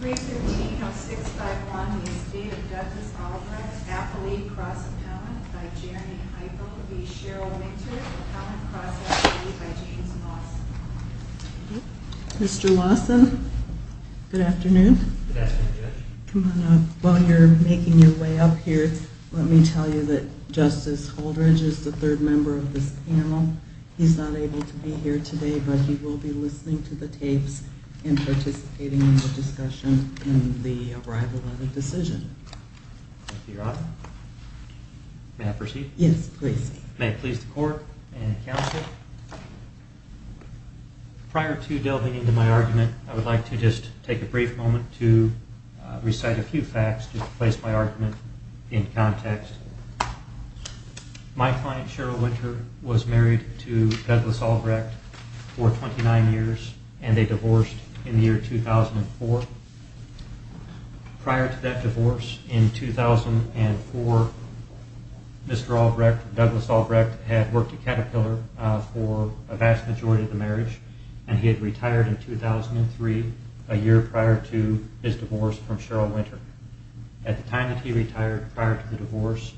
315-651, The Estate of Justice Albrecht, Appellee, Cross Appellant, by Jeremy Heifel, v. Cheryl Winter, Appellant, Cross Appellate, by James Lawson. Mr. Lawson, good afternoon. Good afternoon, Judge. While you're making your way up here, let me tell you that Justice Holdredge is the third member of this panel. He's not able to be here today, but he will be listening to the tapes and participating in the discussion in the arrival of the decision. Thank you, Your Honor. May I proceed? Yes, please. May it please the Court and Counsel. Prior to delving into my argument, I would like to just take a brief moment to recite a few facts to place my argument in context. My client, Cheryl Winter, was married to Douglas Albrecht for 29 years, and they divorced in the year 2004. Prior to that divorce in 2004, Douglas Albrecht had worked at Caterpillar for a vast majority of the marriage, and he had retired in 2003, a year prior to his divorce from Cheryl Winter. At the time that he retired, prior to the divorce,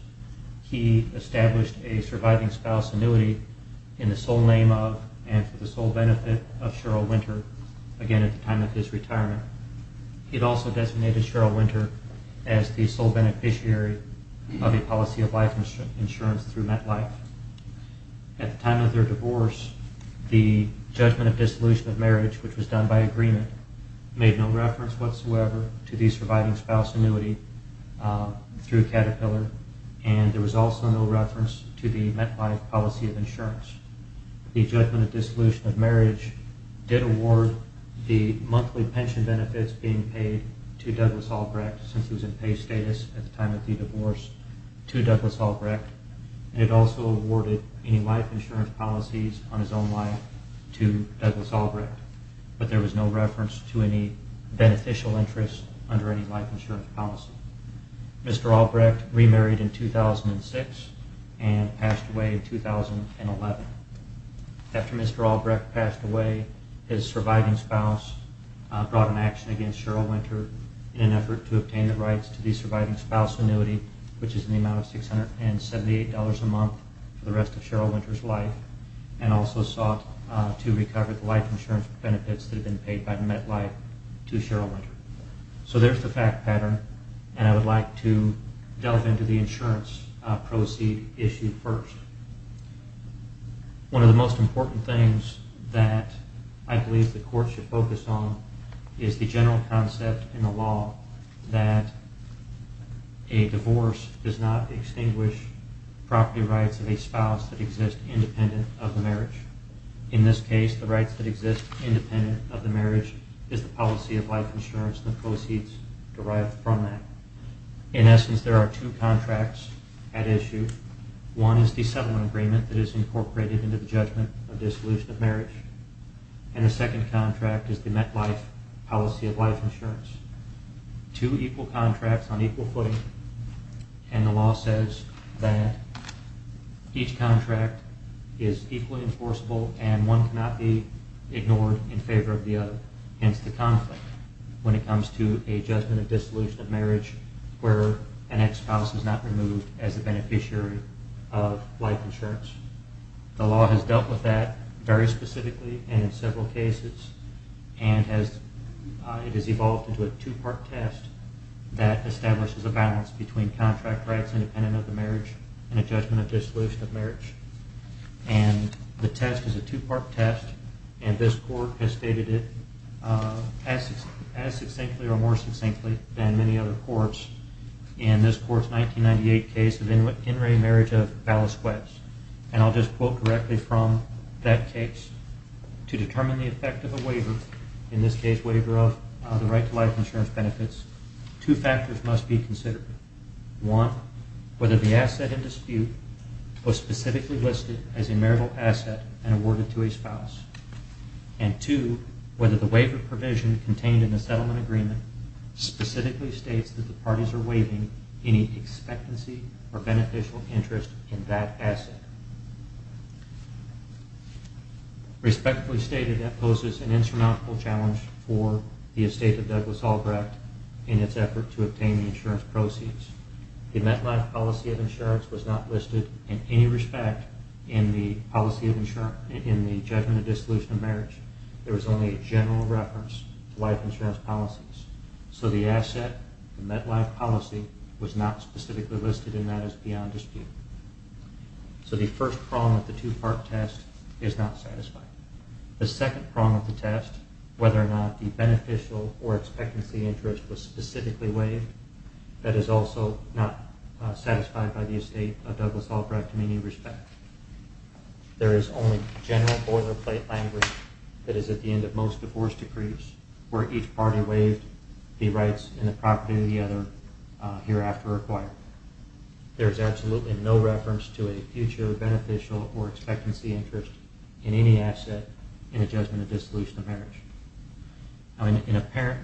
he established a surviving spouse annuity in the sole name of and for the sole benefit of Cheryl Winter again at the time of his retirement. He had also designated Cheryl Winter as the sole beneficiary of the policy of life insurance through MetLife. At the time of their divorce, the judgment of dissolution of marriage, which was done by agreement, made no reference whatsoever to the surviving spouse annuity through Caterpillar, and there was also no reference to the MetLife policy of insurance. The judgment of dissolution of marriage did award the monthly pension benefits being paid to Douglas Albrecht since he was in pay status at the time of the divorce to Douglas Albrecht, and it also awarded any life insurance policies on his own life to Douglas Albrecht, but there was no reference to any beneficial interest under any life insurance policy. Mr. Albrecht remarried in 2006 and passed away in 2011. After Mr. Albrecht passed away, his surviving spouse brought an action against Cheryl Winter in an effort to obtain the rights to the surviving spouse annuity, which is in the amount of $678 a month for the rest of Cheryl Winter's life, and also sought to recover the life insurance benefits that had been paid by MetLife to Cheryl Winter. So there's the fact pattern, and I would like to delve into the insurance proceed issue first. One of the most important things that I believe the Court should focus on is the general concept in the law that a divorce does not extinguish property rights of a spouse that exist independent of the marriage. In this case, the rights that exist independent of the marriage is the policy of life insurance and the proceeds derived from that. In essence, there are two contracts at issue. One is the settlement agreement that is incorporated into the judgment of dissolution of marriage, and the second contract is the MetLife policy of life insurance. Two equal contracts on equal footing, and the law says that each contract is equally enforceable and one cannot be ignored in favor of the other, hence the conflict when it comes to a judgment of dissolution of marriage where an ex-spouse is not removed as a beneficiary of life insurance. The law has dealt with that very specifically and in several cases, and it has evolved into a two-part test that establishes a balance between contract rights independent of the marriage and a judgment of dissolution of marriage. The test is a two-part test, and this Court has stated it as succinctly or more succinctly than many other Courts in this Court's 1998 case of In re Marriage of Ballas-Webbs. And I'll just quote directly from that case. To determine the effect of a waiver, in this case, waiver of the right to life insurance benefits, two factors must be considered. One, whether the asset in dispute was specifically listed as a marital asset and awarded to a spouse, and two, whether the waiver provision contained in the settlement agreement specifically states that the parties are waiving any expectancy or beneficial interest in that asset. Respectfully stated, that poses an insurmountable challenge for the estate of Douglas Albrecht in its effort to obtain the insurance proceeds. The MetLife policy of insurance was not listed in any respect in the policy of insurance, in the judgment of dissolution of marriage. There was only a general reference to life insurance policies. So the asset, the MetLife policy, was not specifically listed in that as beyond dispute. So the first prong of the two-part test is not satisfied. The second prong of the test, whether or not the beneficial or expectancy interest was specifically waived, that is also not satisfied by the estate of Douglas Albrecht in any respect. There is only general boilerplate language that is at the end of most divorce decrees where each party waived the rights in the property of the other hereafter acquired. There is absolutely no reference to a future beneficial or expectancy interest in any asset in the judgment of dissolution of marriage. In apparent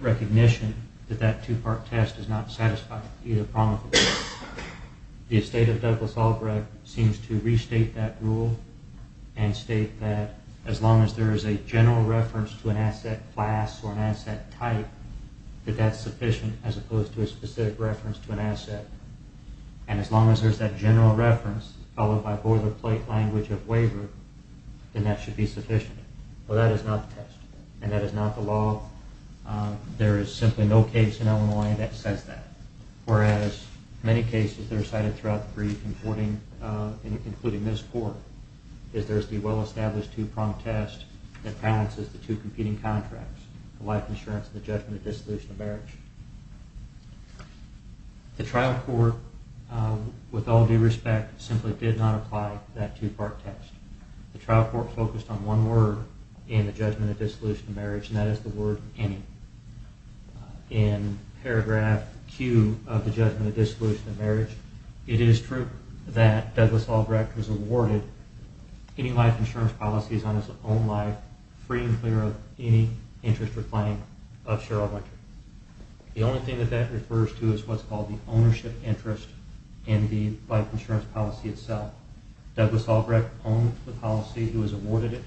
recognition that that two-part test is not satisfying either prong of the two, the estate of Douglas Albrecht seems to restate that rule and state that as long as there is a general reference to an asset class or an asset type, that that's sufficient as opposed to a specific reference to an asset. And as long as there's that general reference followed by boilerplate language of waiver, then that should be sufficient. Well, that is not the test, and that is not the law. There is simply no case in Illinois that says that. Whereas many cases that are cited throughout the brief, including this court, is there's the well-established two-prong test that balances the two competing contracts, the life insurance and the judgment of dissolution of marriage. The trial court, with all due respect, simply did not apply that two-part test. The trial court focused on one word in the judgment of dissolution of marriage, and that is the word any. In paragraph Q of the judgment of dissolution of marriage, it is true that Douglas Albrecht was awarded any life insurance policies on his own life, free and clear of any interest or claim of Cheryl Winter. The only thing that that refers to is what's called the ownership interest in the life insurance policy itself. Douglas Albrecht owned the policy. He was awarded it.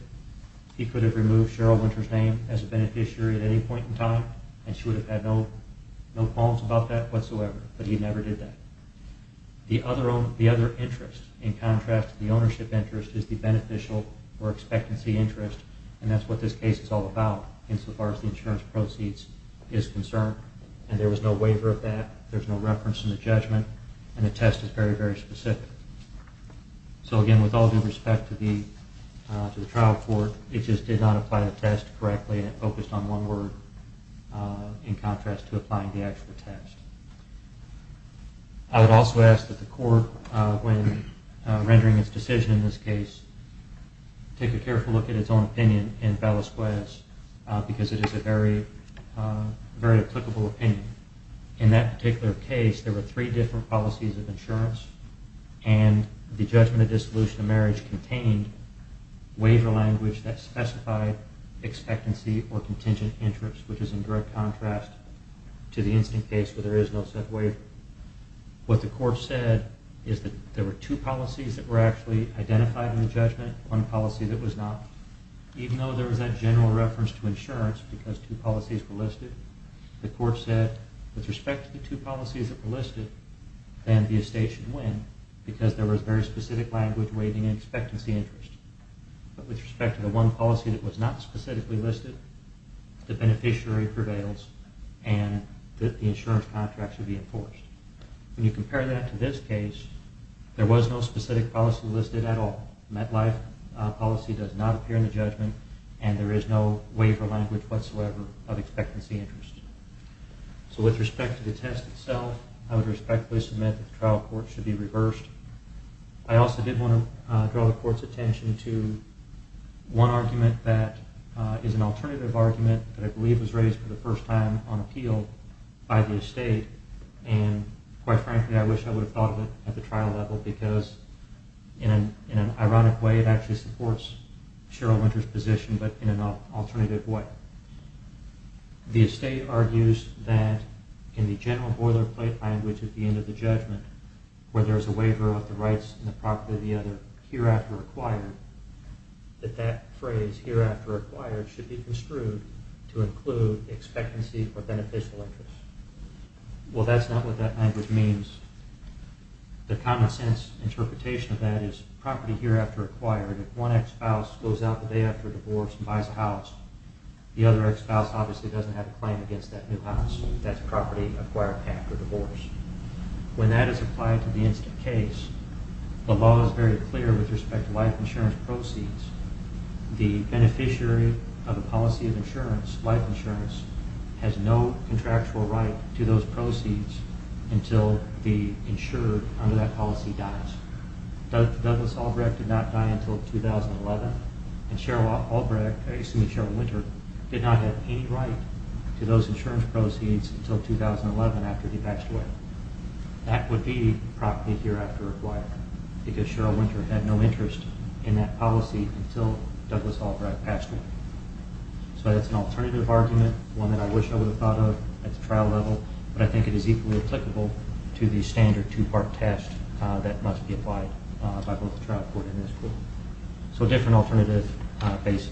He could have removed Cheryl Winter's name as a beneficiary at any point in time, and she would have had no qualms about that whatsoever, but he never did that. The other interest, in contrast to the ownership interest, is the beneficial or expectancy interest, and that's what this case is all about insofar as the insurance proceeds is concerned, and there was no waiver of that, there's no reference in the judgment, and the test is very, very specific. So again, with all due respect to the trial court, it just did not apply the test correctly and it focused on one word in contrast to applying the actual test. I would also ask that the court, when rendering its decision in this case, take a careful look at its own opinion in Bella Suez because it is a very applicable opinion. In that particular case, there were three different policies of insurance, and the judgment of dissolution of marriage contained waiver language that specified expectancy or contingent interest, which is in direct contrast to the instant case where there is no such waiver. What the court said is that there were two policies that were actually identified in the judgment, one policy that was not. Even though there was that general reference to insurance because two policies were listed, the court said, with respect to the two policies that were listed, then the estate should win because there was very specific language waiving expectancy interest. But with respect to the one policy that was not specifically listed, the beneficiary prevails and the insurance contract should be enforced. When you compare that to this case, there was no specific policy listed at all. MetLife policy does not appear in the judgment, and there is no waiver language whatsoever of expectancy interest. So with respect to the test itself, I would respectfully submit that the trial court should be reversed. I also did want to draw the court's attention to one argument that is an alternative argument that I believe was raised for the first time on appeal by the estate, and quite frankly, I wish I would have thought of it at the trial level because in an ironic way, it actually supports Cheryl Winter's position, but in an alternative way. The estate argues that in the general boilerplate language at the end of the judgment, where there is a waiver of the rights in the property of the other hereafter acquired, that that phrase hereafter acquired should be construed to include expectancy or beneficial interest. Well, that's not what that language means. The common sense interpretation of that is property hereafter acquired. If one ex-spouse goes out the day after a divorce and buys a house, the other ex-spouse obviously doesn't have a claim against that new house. That's property acquired after divorce. When that is applied to the instant case, the law is very clear with respect to life insurance proceeds. The beneficiary of a policy of life insurance has no contractual right to those proceeds until the insurer under that policy dies. Douglas Albrecht did not die until 2011, and Cheryl Albrecht, I assume Cheryl Winter, did not have any right to those insurance proceeds until 2011 after he passed away. That would be property hereafter acquired, because Cheryl Winter had no interest in that policy until Douglas Albrecht passed away. So that's an alternative argument, one that I wish I would have thought of at the trial level, but I think it is equally applicable to the standard two-part test that must be applied by both the trial court and this court. So different alternative bases.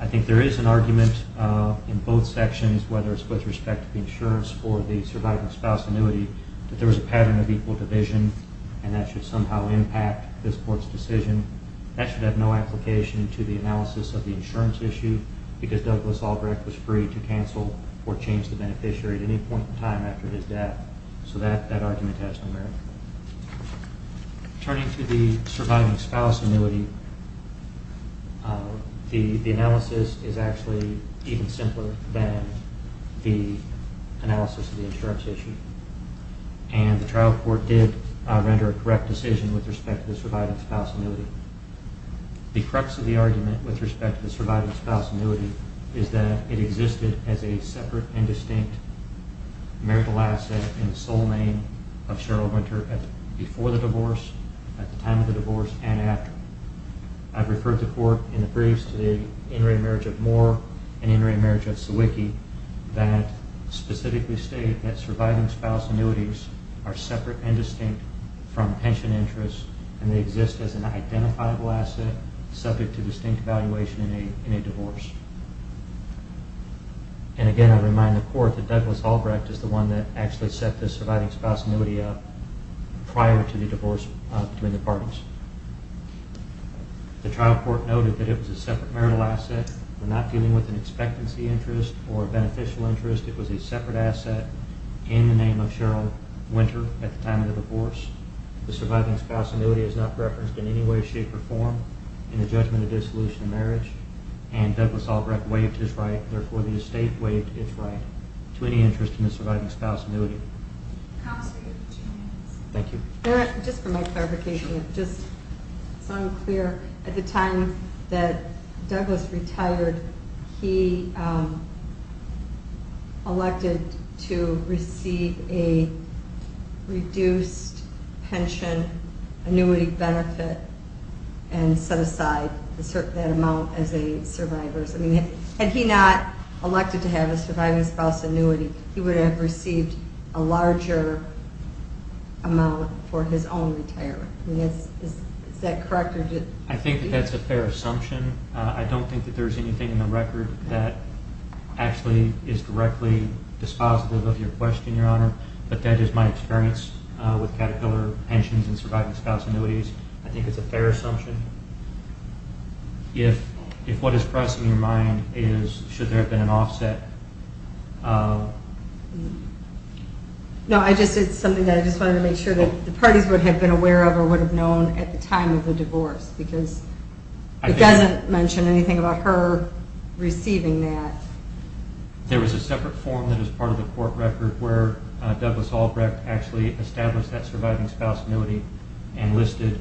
I think there is an argument in both sections, whether it's with respect to the insurance or the surviving spouse annuity, that there was a pattern of equal division, and that should somehow impact this court's decision. That should have no application to the analysis of the insurance issue, because Douglas Albrecht was free to cancel or change the beneficiary at any point in time after his death. So that argument has no merit. Turning to the surviving spouse annuity, the analysis is actually even simpler than the analysis of the insurance issue, and the trial court did render a correct decision with respect to the surviving spouse annuity. The crux of the argument with respect to the surviving spouse annuity is that it existed as a separate and distinct marital asset in the sole name of Cheryl Winter before the divorce, at the time of the divorce, and after. I've referred the court in the briefs to the in-rate marriage of Moore and in-rate marriage of Sawicki that specifically state that surviving spouse annuities are separate and distinct from pension interests, and they exist as an identifiable asset subject to distinct valuation in a divorce. And again, I remind the court that Douglas Albrecht is the one that actually set this surviving spouse annuity up prior to the divorce between the parties. The trial court noted that it was a separate marital asset. We're not dealing with an expectancy interest or a beneficial interest. It was a separate asset in the name of Cheryl Winter at the time of the divorce. The surviving spouse annuity is not referenced in any way, shape, or form in the judgment of dissolution of marriage, and Douglas Albrecht waived his right. Therefore, the estate waived its right to any interest in the surviving spouse annuity. Counsel, you have two minutes. Thank you. Just for my clarification, just so I'm clear, at the time that Douglas retired, he elected to receive a reduced pension annuity benefit and set aside that amount as a survivor. Had he not elected to have a surviving spouse annuity, he would have received a larger amount for his own retirement. Is that correct? I think that's a fair assumption. I don't think that there's anything in the record that actually is directly dispositive of your question, Your Honor, but that is my experience with Caterpillar pensions and surviving spouse annuities. I think it's a fair assumption. If what is crossing your mind is should there have been an offset. No, I just said something that I just wanted to make sure that the parties would have been aware of or would have known at the time of the divorce because it doesn't mention anything about her receiving that. There was a separate form that was part of the court record where Douglas Albrecht actually established that surviving spouse annuity and listed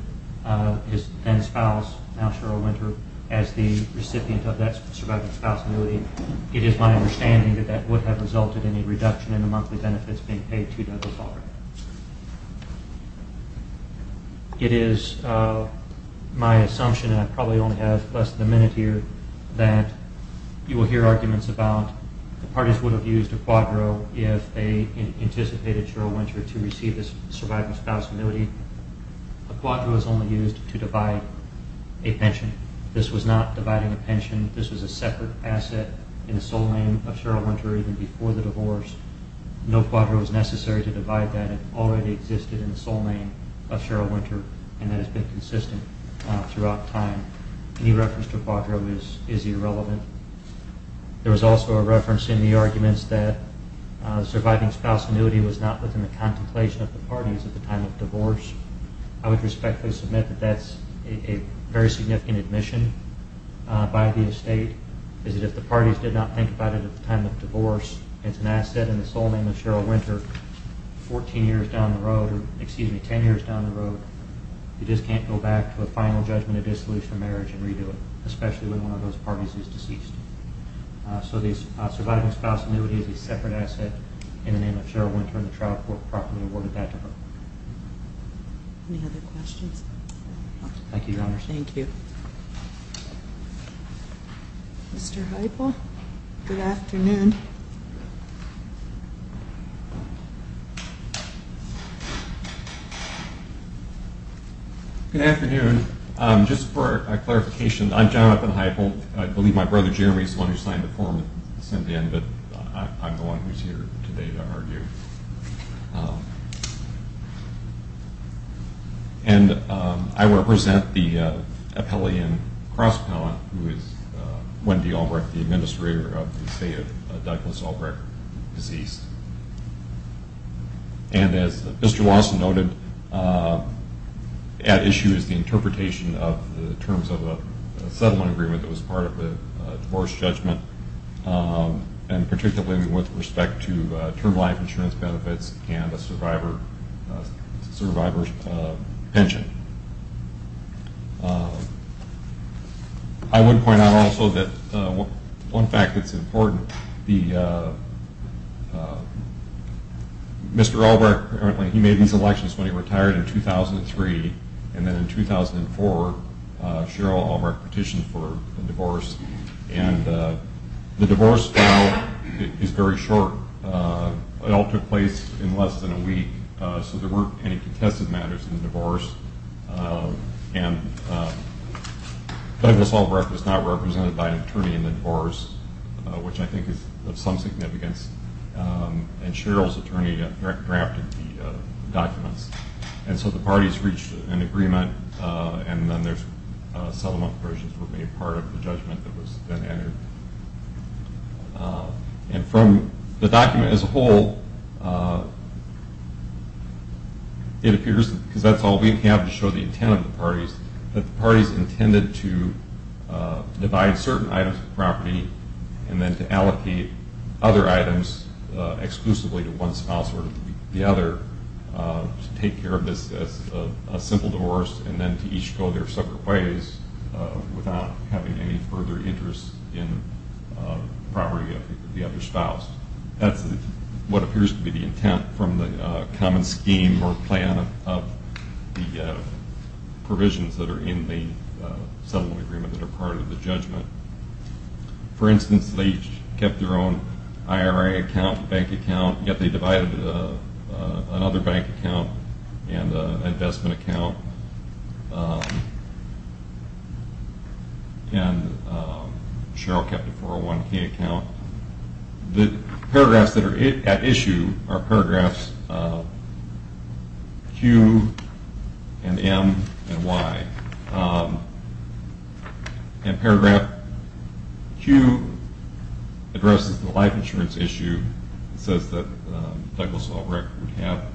his then spouse, now Cheryl Winter, as the recipient of that surviving spouse annuity. It is my understanding that that would have resulted in a reduction in the monthly benefits being paid to Douglas Albrecht. It is my assumption, and I probably only have less than a minute here, that you will hear arguments about the parties would have used a quadro if they anticipated Cheryl Winter to receive this surviving spouse annuity. A quadro is only used to divide a pension. This was not dividing a pension. This was a separate asset in the sole name of Cheryl Winter even before the divorce. No quadro was necessary to divide that. It already existed in the sole name of Cheryl Winter, and that has been consistent throughout time. Any reference to a quadro is irrelevant. There was also a reference in the arguments that surviving spouse annuity was not within the contemplation of the parties at the time of divorce. I would respectfully submit that that's a very significant admission by the estate, is that if the parties did not think about it at the time of divorce, it's an asset in the sole name of Cheryl Winter 14 years down the road, or excuse me, 10 years down the road. You just can't go back to a final judgment of dissolution of marriage and redo it, especially when one of those parties is deceased. So the surviving spouse annuity is a separate asset in the name of Cheryl Winter, and the trial court properly awarded that to her. Any other questions? Thank you, Your Honor. Thank you. Mr. Heupel, good afternoon. Good afternoon. Just for clarification, I'm John Heupel. I believe my brother Jeremy is the one who signed the form that was sent in, but I'm the one who's here today to argue. And I represent the appellee and cross-appellant who is Wendy Albrecht, the administrator of the estate of Douglas Albrecht, deceased. And as Mr. Lawson noted, at issue is the interpretation of the terms of a settlement agreement that was part of the divorce judgment, and particularly with respect to term life insurance benefits and a survivor's pension. I would point out also that one fact that's important, Mr. Albrecht, apparently he made these elections when he retired in 2003, and then in 2004 Cheryl Albrecht petitioned for a divorce. And the divorce trial is very short. It all took place in less than a week, so there weren't any contested matters in the divorce. And Douglas Albrecht was not represented by an attorney in the divorce, which I think is of some significance. And Cheryl's attorney drafted the documents. And so the parties reached an agreement, and then the settlement provisions were made part of the judgment that was then entered. And from the document as a whole, it appears, because that's all we have to show the intent of the parties, that the parties intended to divide certain items of property and then to allocate other items exclusively to one spouse or the other, to take care of this as a simple divorce and then to each go their separate ways without having any further interest in the property of the other spouse. That's what appears to be the intent from the common scheme or plan of the provisions that are in the settlement agreement that are part of the judgment. For instance, they kept their own IRA account, bank account, yet they divided another bank account and an investment account. And Cheryl kept a 401k account. The paragraphs that are at issue are paragraphs Q and M and Y. And paragraph Q addresses the life insurance issue. It says that Douglas Albrecht would have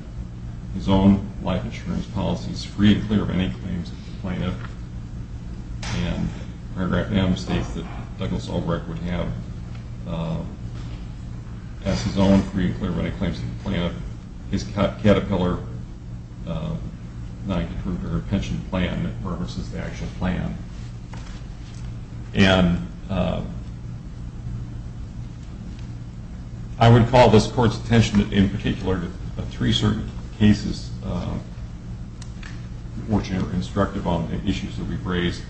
his own life insurance policies free of any claims to the plaintiff. And paragraph M states that Douglas Albrecht would have as his own free and clear of any claims to the plaintiff his Caterpillar pension plan that purposes the actual plan. And I would call this Court's attention in particular to three certain cases, unfortunate or constructive on the issues that we've raised.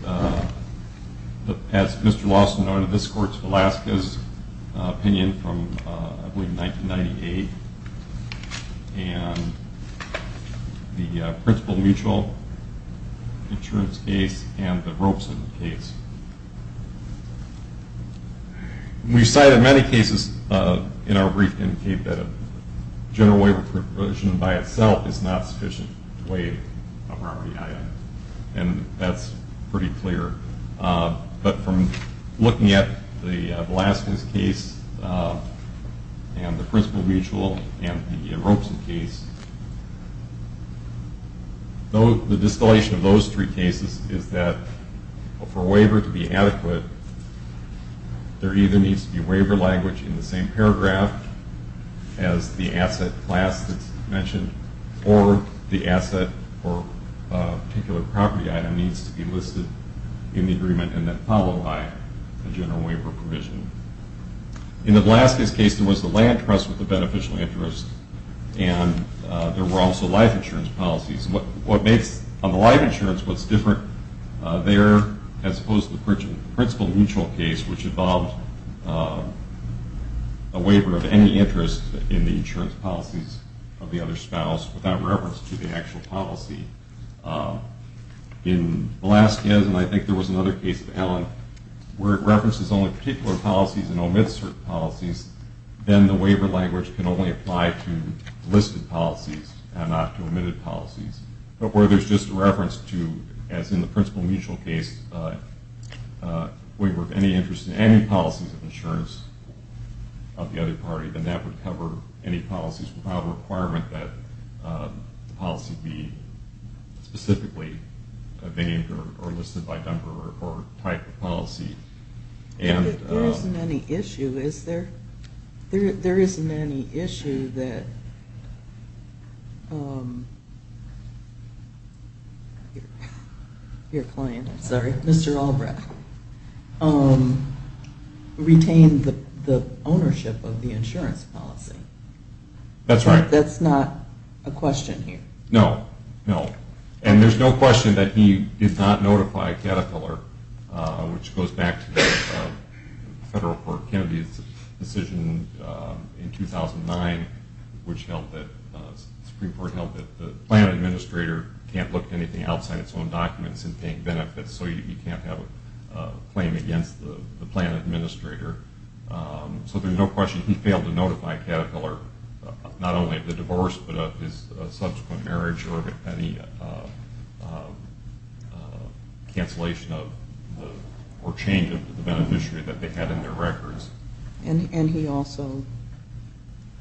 As Mr. Lawson noted, this Court's Velasquez opinion from, I believe, 1998, and the Principal Mutual Insurance case and the Robeson case. We've cited many cases in our brief indicate that a general waiver provision by itself is not sufficient to waive a property item. And that's pretty clear. But from looking at the Velasquez case and the Principal Mutual and the Robeson case, the distillation of those three cases is that for a waiver to be adequate, there either needs to be waiver language in the same paragraph as the asset class that's mentioned or the asset or particular property item needs to be listed in the agreement and then followed by a general waiver provision. In the Velasquez case, there was the land trust with the beneficial interest, and there were also life insurance policies. On the life insurance, what's different there as opposed to the Principal Mutual case, which involved a waiver of any interest in the insurance policies of the other spouse without reference to the actual policy. In Velasquez, and I think there was another case of Allen, where it references only particular policies and omits certain policies, then the waiver language can only apply to listed policies and not to omitted policies. But where there's just a reference to, as in the Principal Mutual case, waiver of any interest in any policies of insurance of the other party, then that would cover any policies without a requirement that the policy be specifically named or listed by number or type of policy. There isn't any issue, is there? There isn't any issue that your client, sorry, Mr. Albrecht, retained the ownership of the insurance policy. That's right. That's not a question here. No, no. And there's no question that he did not notify Caterpillar, which goes back to the Federal Court of Kennedy's decision in 2009, which held that the Supreme Court held that the plan administrator can't look at anything outside its own documents in paying benefits, so you can't have a claim against the plan administrator. So there's no question he failed to notify Caterpillar, not only of the divorce but of his subsequent marriage or any cancellation or change of the beneficiary that they had in their records. And he also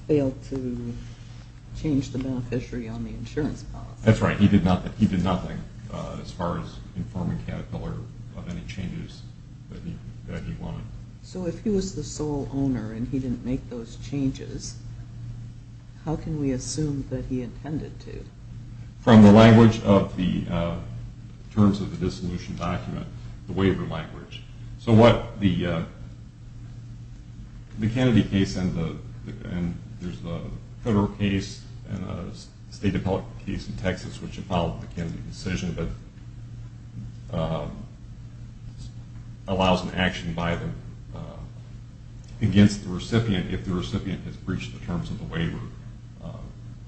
failed to change the beneficiary on the insurance policy. That's right. He did nothing as far as informing Caterpillar of any changes that he wanted. So if he was the sole owner and he didn't make those changes, how can we assume that he intended to? From the language of the terms of the dissolution document, the waiver language. So what the Kennedy case and there's a federal case and a state appellate case in Texas which have followed the Kennedy decision that allows an action by them against the recipient if the recipient has breached the terms of the waiver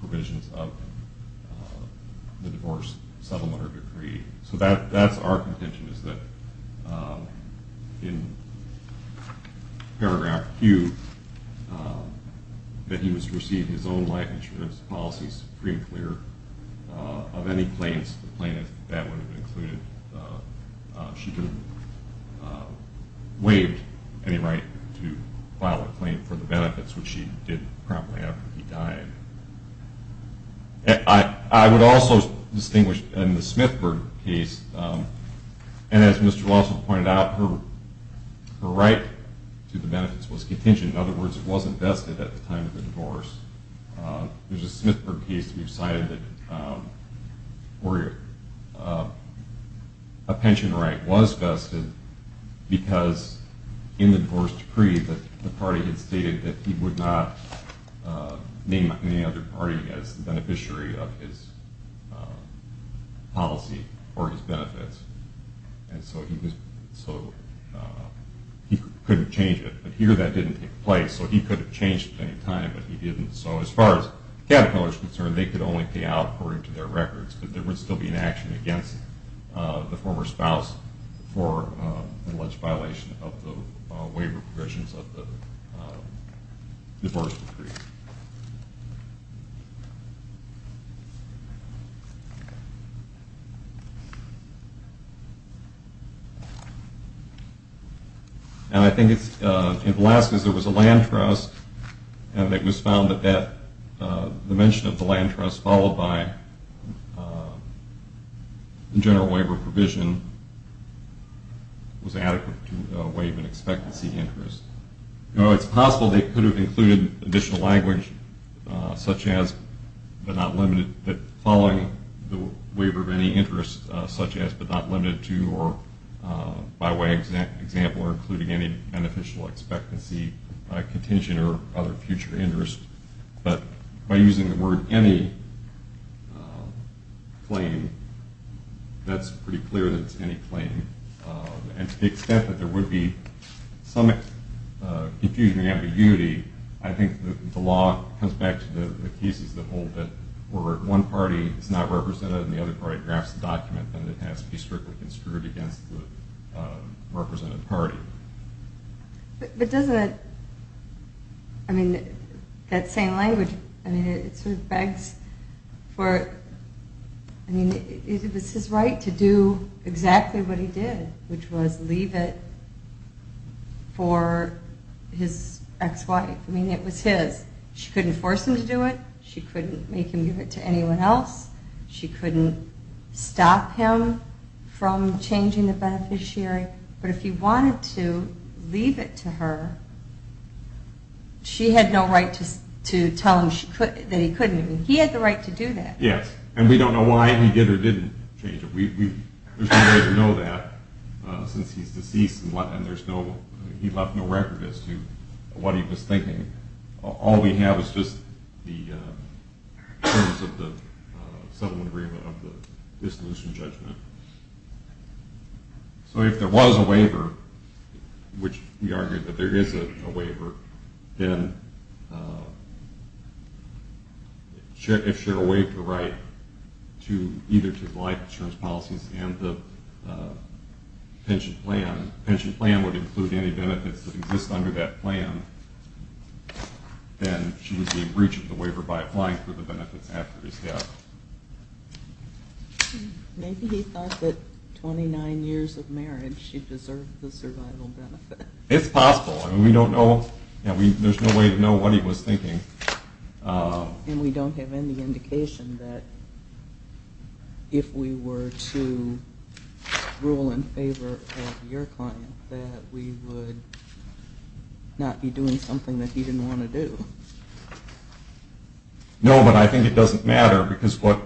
provisions of the divorce settlement or decree. So that's our contention is that in paragraph Q, that he must receive his own life insurance policies of any claims, the plaintiff, that would have included. She didn't waive any right to file a claim for the benefits, which she did promptly after he died. I would also distinguish in the Smithburg case, and as Mr. Lawson pointed out, her right to the benefits was contingent. In other words, it wasn't vested at the time of the divorce. There's a Smithburg case that decided that a pension right was vested because in the divorce decree the party had stated that he would not name any other party as the beneficiary of his policy or his benefits, and so he couldn't change it. But here that didn't take place, so he could have changed at any time, but he didn't, so as far as Capito is concerned, they could only pay out according to their records, but there would still be an action against the former spouse for alleged violation of the waiver provisions of the divorce decree. And I think in the last case there was a land trust, and it was found that the mention of the land trust followed by the general waiver provision was adequate to waive an expectancy interest. Now, it's possible they could have included additional language such as but not limited, but following the waiver of any interest such as but not limited to or by way of example or including any beneficial expectancy, contingent, or other future interest, but by using the word any claim, that's pretty clear that it's any claim, and to the extent that there would be some confusion or ambiguity, I think the law comes back to the cases that hold that where one party is not represented and the other party drafts the document, then it has to be strictly construed against the represented party. But doesn't it, I mean, that same language, I mean, it sort of begs for, I mean, it was his right to do exactly what he did, which was leave it for his ex-wife. I mean, it was his. She couldn't force him to do it. She couldn't make him give it to anyone else. She couldn't stop him from changing the beneficiary. But if he wanted to leave it to her, she had no right to tell him that he couldn't. He had the right to do that. Yes, and we don't know why he did or didn't change it. There's no way to know that since he's deceased and he left no record as to what he was thinking. All we have is just the terms of the settlement agreement of the dissolution judgment. So if there was a waiver, which we argue that there is a waiver, then if she were to waive the right either to the life insurance policies and the pension plan, the pension plan would include any benefits that exist under that plan, then she would be breaching the waiver by applying for the benefits after his death. Maybe he thought that 29 years of marriage she deserved the survival benefit. It's possible. We don't know. There's no way to know what he was thinking. And we don't have any indication that if we were to rule in favor of your client that we would not be doing something that he didn't want to do. No, but I think it doesn't matter because the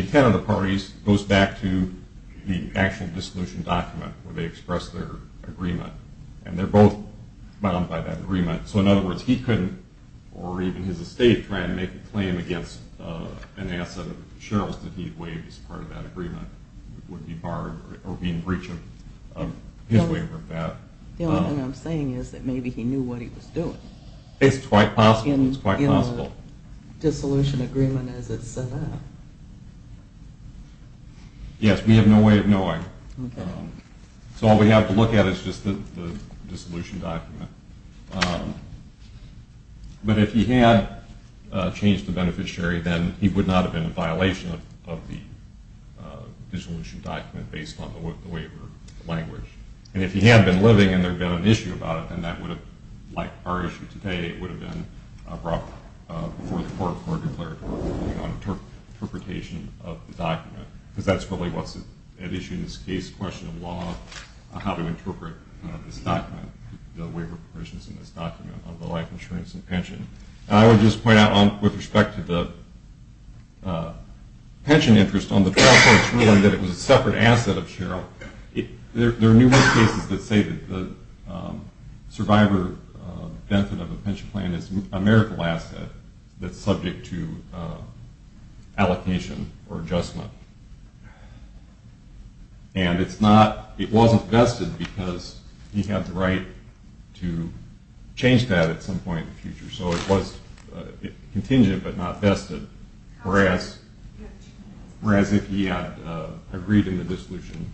intent of the parties goes back to the actual dissolution document where they expressed their agreement. And they're both bound by that agreement. So in other words, he couldn't, or even his estate, try and make a claim against an asset of Sheryl's that he'd waived as part of that agreement would be barred or be in breach of his waiver of that. The only thing I'm saying is that maybe he knew what he was doing. It's quite possible. In the dissolution agreement as it's set up. Yes, we have no way of knowing. So all we have to look at is just the dissolution document. But if he had changed the beneficiary, then he would not have been in violation of the dissolution document based on the waiver language. And if he had been living and there had been an issue about it, then that would have, like our issue today, it would have been brought before the court for a declared interpretation of the document because that's really what's at issue in this case, question of law, how to interpret this document, the waiver provisions in this document, on the life insurance and pension. And I would just point out with respect to the pension interest, on the process ruling that it was a separate asset of Sheryl, there are numerous cases that say that the survivor benefit of a pension plan is a miracle asset that's subject to allocation or adjustment. And it wasn't vested because he had the right to change that at some point in the future. So it was contingent but not vested, whereas if he had agreed in the dissolution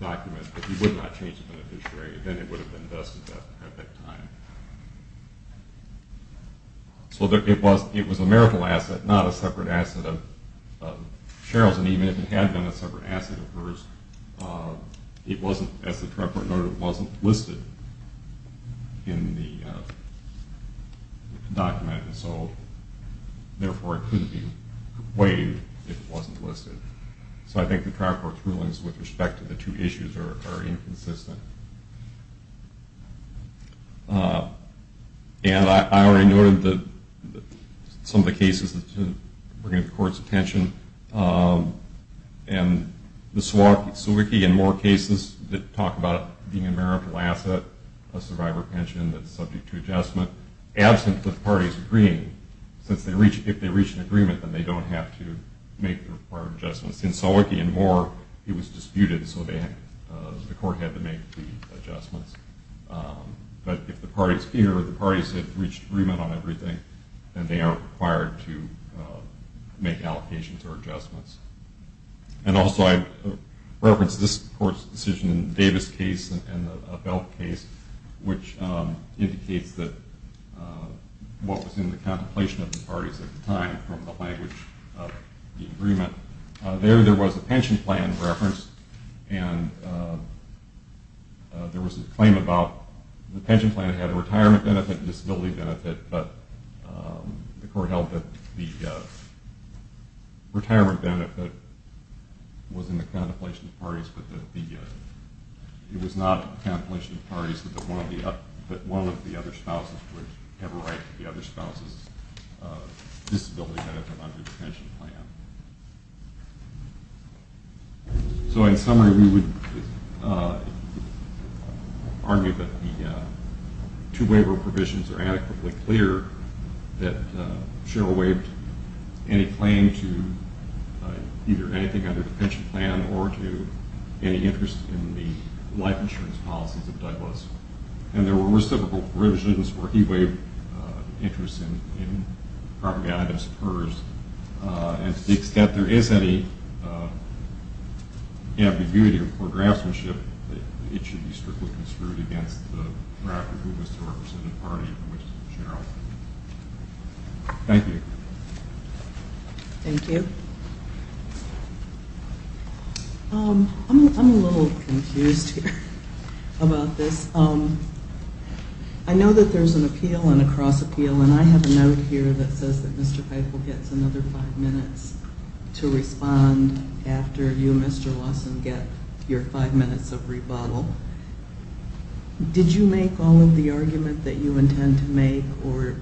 document that he would not change the beneficiary, then it would have been vested at that time. So it was a miracle asset, not a separate asset of Sheryl's, and even if it had been a separate asset of hers, it wasn't, as the trial court noted, it wasn't listed in the document, and so therefore it couldn't be waived if it wasn't listed. So I think the trial court's rulings with respect to the two issues are inconsistent. And I already noted some of the cases that were going to court's attention, and the Suwakie and Moore cases that talk about it being a miracle asset, a survivor pension that's subject to adjustment, absent the parties agreeing, since if they reach an agreement, then they don't have to make the required adjustments. In Suwakie and Moore, it was disputed, so the court had to make the adjustments. But if the parties here or the parties had reached agreement on everything, then they are required to make allocations or adjustments. And also I referenced this court's decision in the Davis case and the Belf case, which indicates that what was in the contemplation of the parties at the time from the language of the agreement, there was a pension plan reference, and there was a claim about the pension plan had a retirement benefit, a disability benefit, but the court held that the retirement benefit was in the contemplation of the parties, but it was not in the contemplation of the parties, but one of the other spouses would have a right to the other spouse's disability benefit under the pension plan. So in summary, we would argue that the two waiver provisions are adequately clear that Cheryl waived any claim to either anything under the pension plan or to any interest in the life insurance policies of Douglas. And there were reciprocal provisions where he waived interest in propaganda as pers, and to the extent there is any ambiguity or craftsmanship, it should be strictly construed against the draft of who was the representative party in which Cheryl was. Thank you. Thank you. I'm a little confused here about this. I know that there's an appeal and a cross-appeal, and I have a note here that says that Mr. Feigl gets another five minutes to respond after you, Mr. Lawson, get your five minutes of rebuttal. Did you make all of the argument that you intend to make, or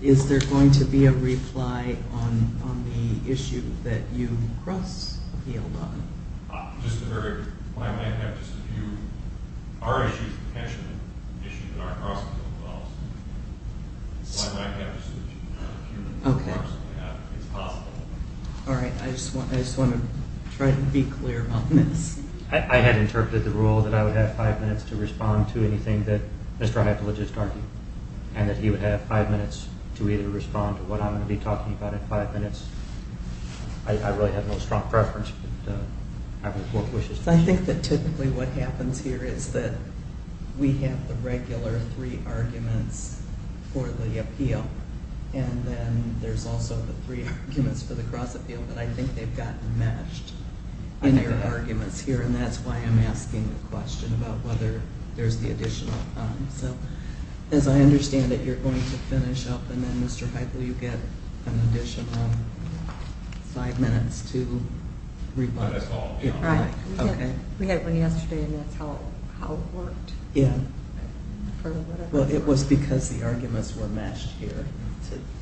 is there going to be a reply on the issue that you cross-appealed on? I might have just a few. Our issue is a pension issue that our cross-appeal involves. So I might have just a few minutes. It's possible. All right. I just want to try to be clear about this. I had interpreted the rule that I would have five minutes to respond to anything that Mr. Heifel would just argue, and that he would have five minutes to either respond to what I'm going to be talking about in five minutes. I really have no strong preference. I think that typically what happens here is that we have the regular three arguments for the appeal, and then there's also the three arguments for the cross-appeal, but I think they've gotten matched in their arguments here, and that's why I'm asking the question about whether there's the additional time. So as I understand it, you're going to finish up, and then Mr. Heifel you get an additional five minutes to reply. That's all. Right. Okay. We had one yesterday, and that's how it worked. Yeah. Well, it was because the arguments were matched here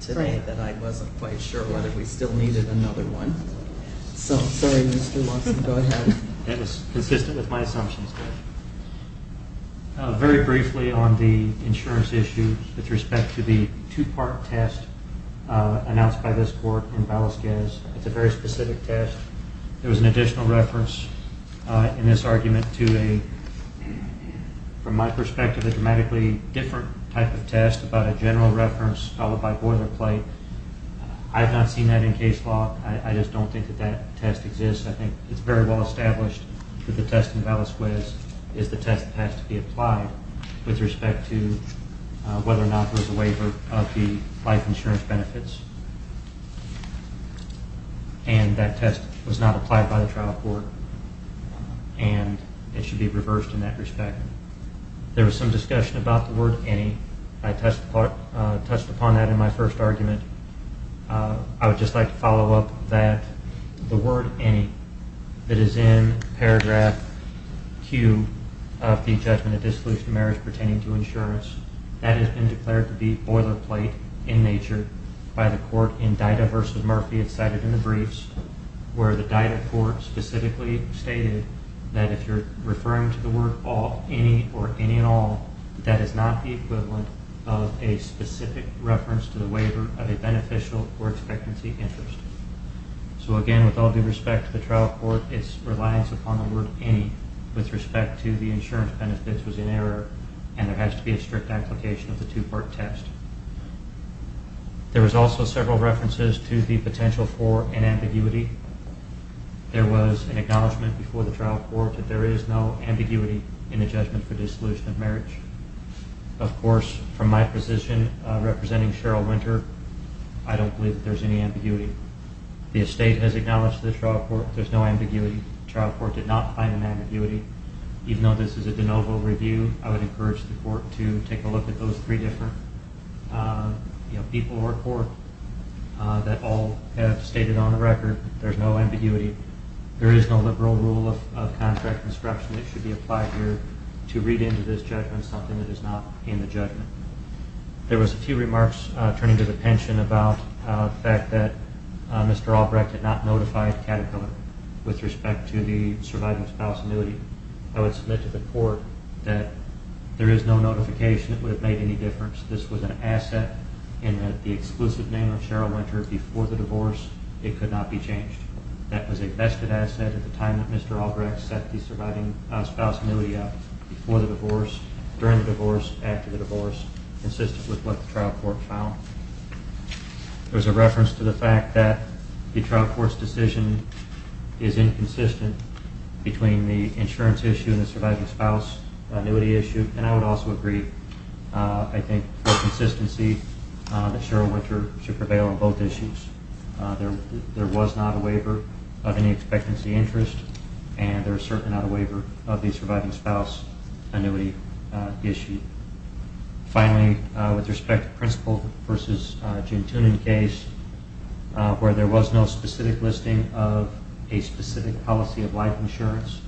today that I wasn't quite sure whether we still needed another one. So I'm sorry, Mr. Lawson. Go ahead. It was consistent with my assumptions. Very briefly on the insurance issue with respect to the two-part test announced by this court in Valesquez, it's a very specific test. There was an additional reference in this argument to a, from my perspective, a dramatically different type of test about a general reference followed by boilerplate. I've not seen that in case law. I just don't think that that test exists. I think it's very well established that the test in Valesquez is the test that has to be applied with respect to whether or not there's a waiver of the life insurance benefits, and that test was not applied by the trial court, and it should be reversed in that respect. There was some discussion about the word any. I touched upon that in my first argument. I would just like to follow up that the word any that is in paragraph Q of the judgment of dissolution of marriage pertaining to insurance, that has been declared to be boilerplate in nature by the court in Dida v. Murphy. It's cited in the briefs where the Dida court specifically stated that if you're referring to the word any or any and all, that is not the equivalent of a specific reference to the waiver of a beneficial or expectancy interest. So, again, with all due respect to the trial court, its reliance upon the word any with respect to the insurance benefits was in error, and there has to be a strict application of the two-part test. There was an acknowledgment before the trial court that there is no ambiguity in the judgment for dissolution of marriage. Of course, from my position representing Cheryl Winter, I don't believe that there's any ambiguity. The estate has acknowledged to the trial court there's no ambiguity. The trial court did not find an ambiguity. Even though this is a de novo review, I would encourage the court to take a look at those three different people that all have stated on the record there's no ambiguity. There is no liberal rule of contract construction that should be applied here to read into this judgment something that is not in the judgment. There was a few remarks turning to the pension about the fact that Mr. Albrecht had not notified Caterpillar with respect to the surviving spouse annuity. I would submit to the court that there is no notification. It would have made any difference. This was an asset in that the exclusive name of Cheryl Winter before the divorce, it could not be changed. That was a vested asset at the time that Mr. Albrecht set the surviving spouse annuity up before the divorce, during the divorce, after the divorce, consistent with what the trial court found. There's a reference to the fact that the trial court's decision is inconsistent between the insurance issue and the surviving spouse annuity issue, and I would also agree, I think, for consistency that Cheryl Winter should prevail on both issues. There was not a waiver of any expectancy interest, and there is certainly not a waiver of the surviving spouse annuity issue. Finally, with respect to the Principal v. Gin Tunen case, where there was no specific listing of a specific policy of life insurance,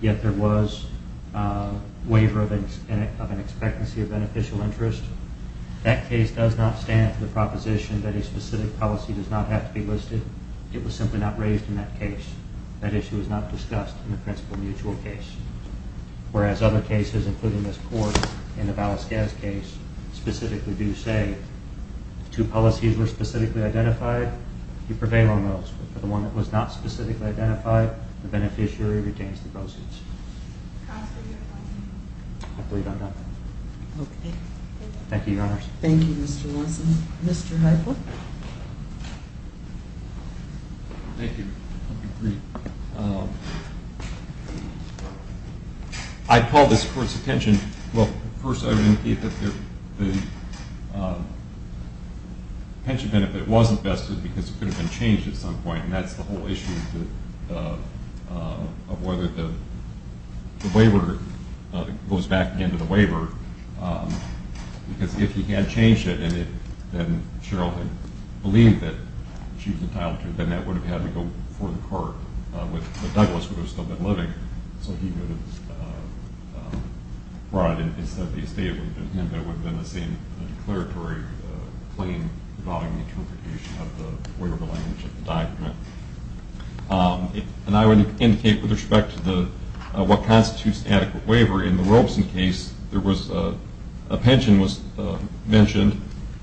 yet there was a waiver of an expectancy of beneficial interest, that case does not stand for the proposition that a specific policy does not have to be listed. It was simply not raised in that case. That issue was not discussed in the Principal mutual case, whereas other cases, including this court in the Valis-Gas case, specifically do say if two policies were specifically identified, you prevail on those. For the one that was not specifically identified, the beneficiary retains the proceeds. Counsel, do you have a question? I believe I'm done. Okay. Thank you, Your Honors. Thank you, Mr. Lawson. Mr. Heifle? Thank you. I'll be brief. I call this court's attention, well, first I would indicate that the pension benefit wasn't vested because it could have been changed at some point, and that's the whole issue of whether the waiver goes back again to the waiver, because if he had changed it and then Cheryl had believed that she was entitled to it, then that would have had to go before the court, but Douglas would have still been living, so he would have brought it instead of the estate, and it would have been the same declaratory claim involving the interpretation of the waiver language of the document. And I would indicate with respect to what constitutes adequate waiver, in the Robeson case a pension was mentioned,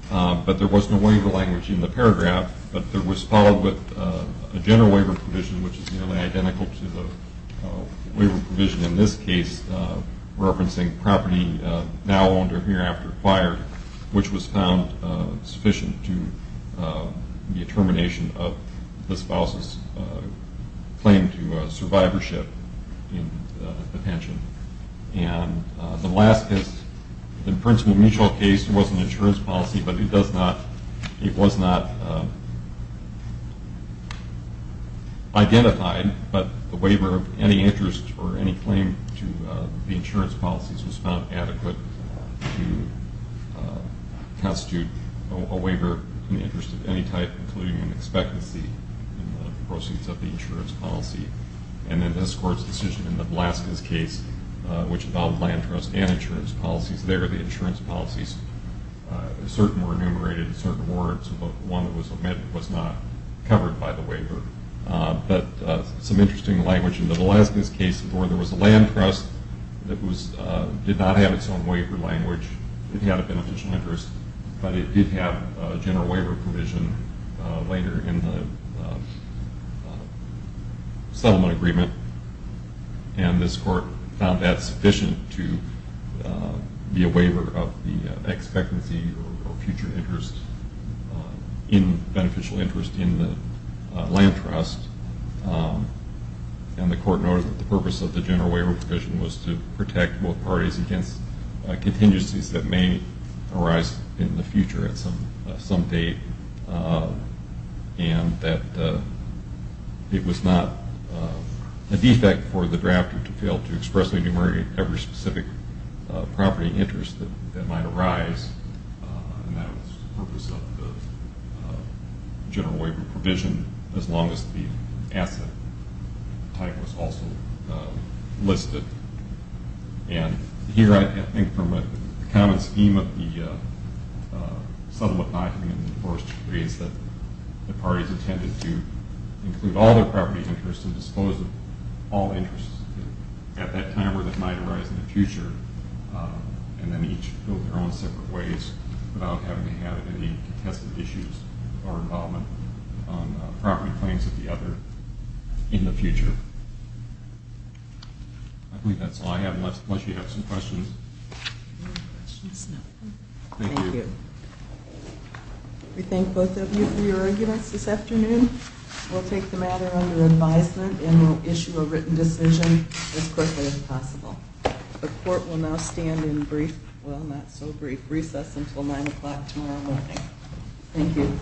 but there was no waiver language in the paragraph, but there was followed with a general waiver provision, which is nearly identical to the waiver provision in this case, referencing property now owned or hereafter acquired, which was found sufficient to the termination of the spouse's claim to survivorship in the pension. And the Blaschkas, in the Princeton Mutual case, there was an insurance policy, but it was not identified, but the waiver of any interest or any claim to the insurance policies was found adequate to constitute a waiver in the interest of any type, including an expectancy in the proceeds of the insurance policy. And then this Court's decision in the Blaschkas case, which involved land trust and insurance policies, there the insurance policies, certain were enumerated in certain words, but one that was omitted was not covered by the waiver. But some interesting language in the Blaschkas case, where there was a land trust that did not have its own waiver language, it had a beneficial interest, but it did have a general waiver provision later in the settlement agreement. And this Court found that sufficient to be a waiver of the expectancy or future interest in beneficial interest in the land trust. And the Court noted that the purpose of the general waiver provision was to protect both parties against contingencies that may arise in the future at some date, and that it was not a defect for the drafter to fail to express or enumerate every specific property interest that might arise, and that was the purpose of the general waiver provision, as long as the asset type was also listed. And here I think from a common scheme of the settlement document, the first is that the parties intended to include all their property interests and dispose of all interests at that time or that might arise in the future, and then each go their own separate ways without having to have any contested issues or involvement on property claims of the other in the future. I believe that's all I have, unless you have some questions. Any questions? No. Thank you. We thank both of you for your arguments this afternoon. We'll take the matter under advisement and we'll issue a written decision as quickly as possible. The court will now stand in recess until 9 o'clock tomorrow morning. Thank you.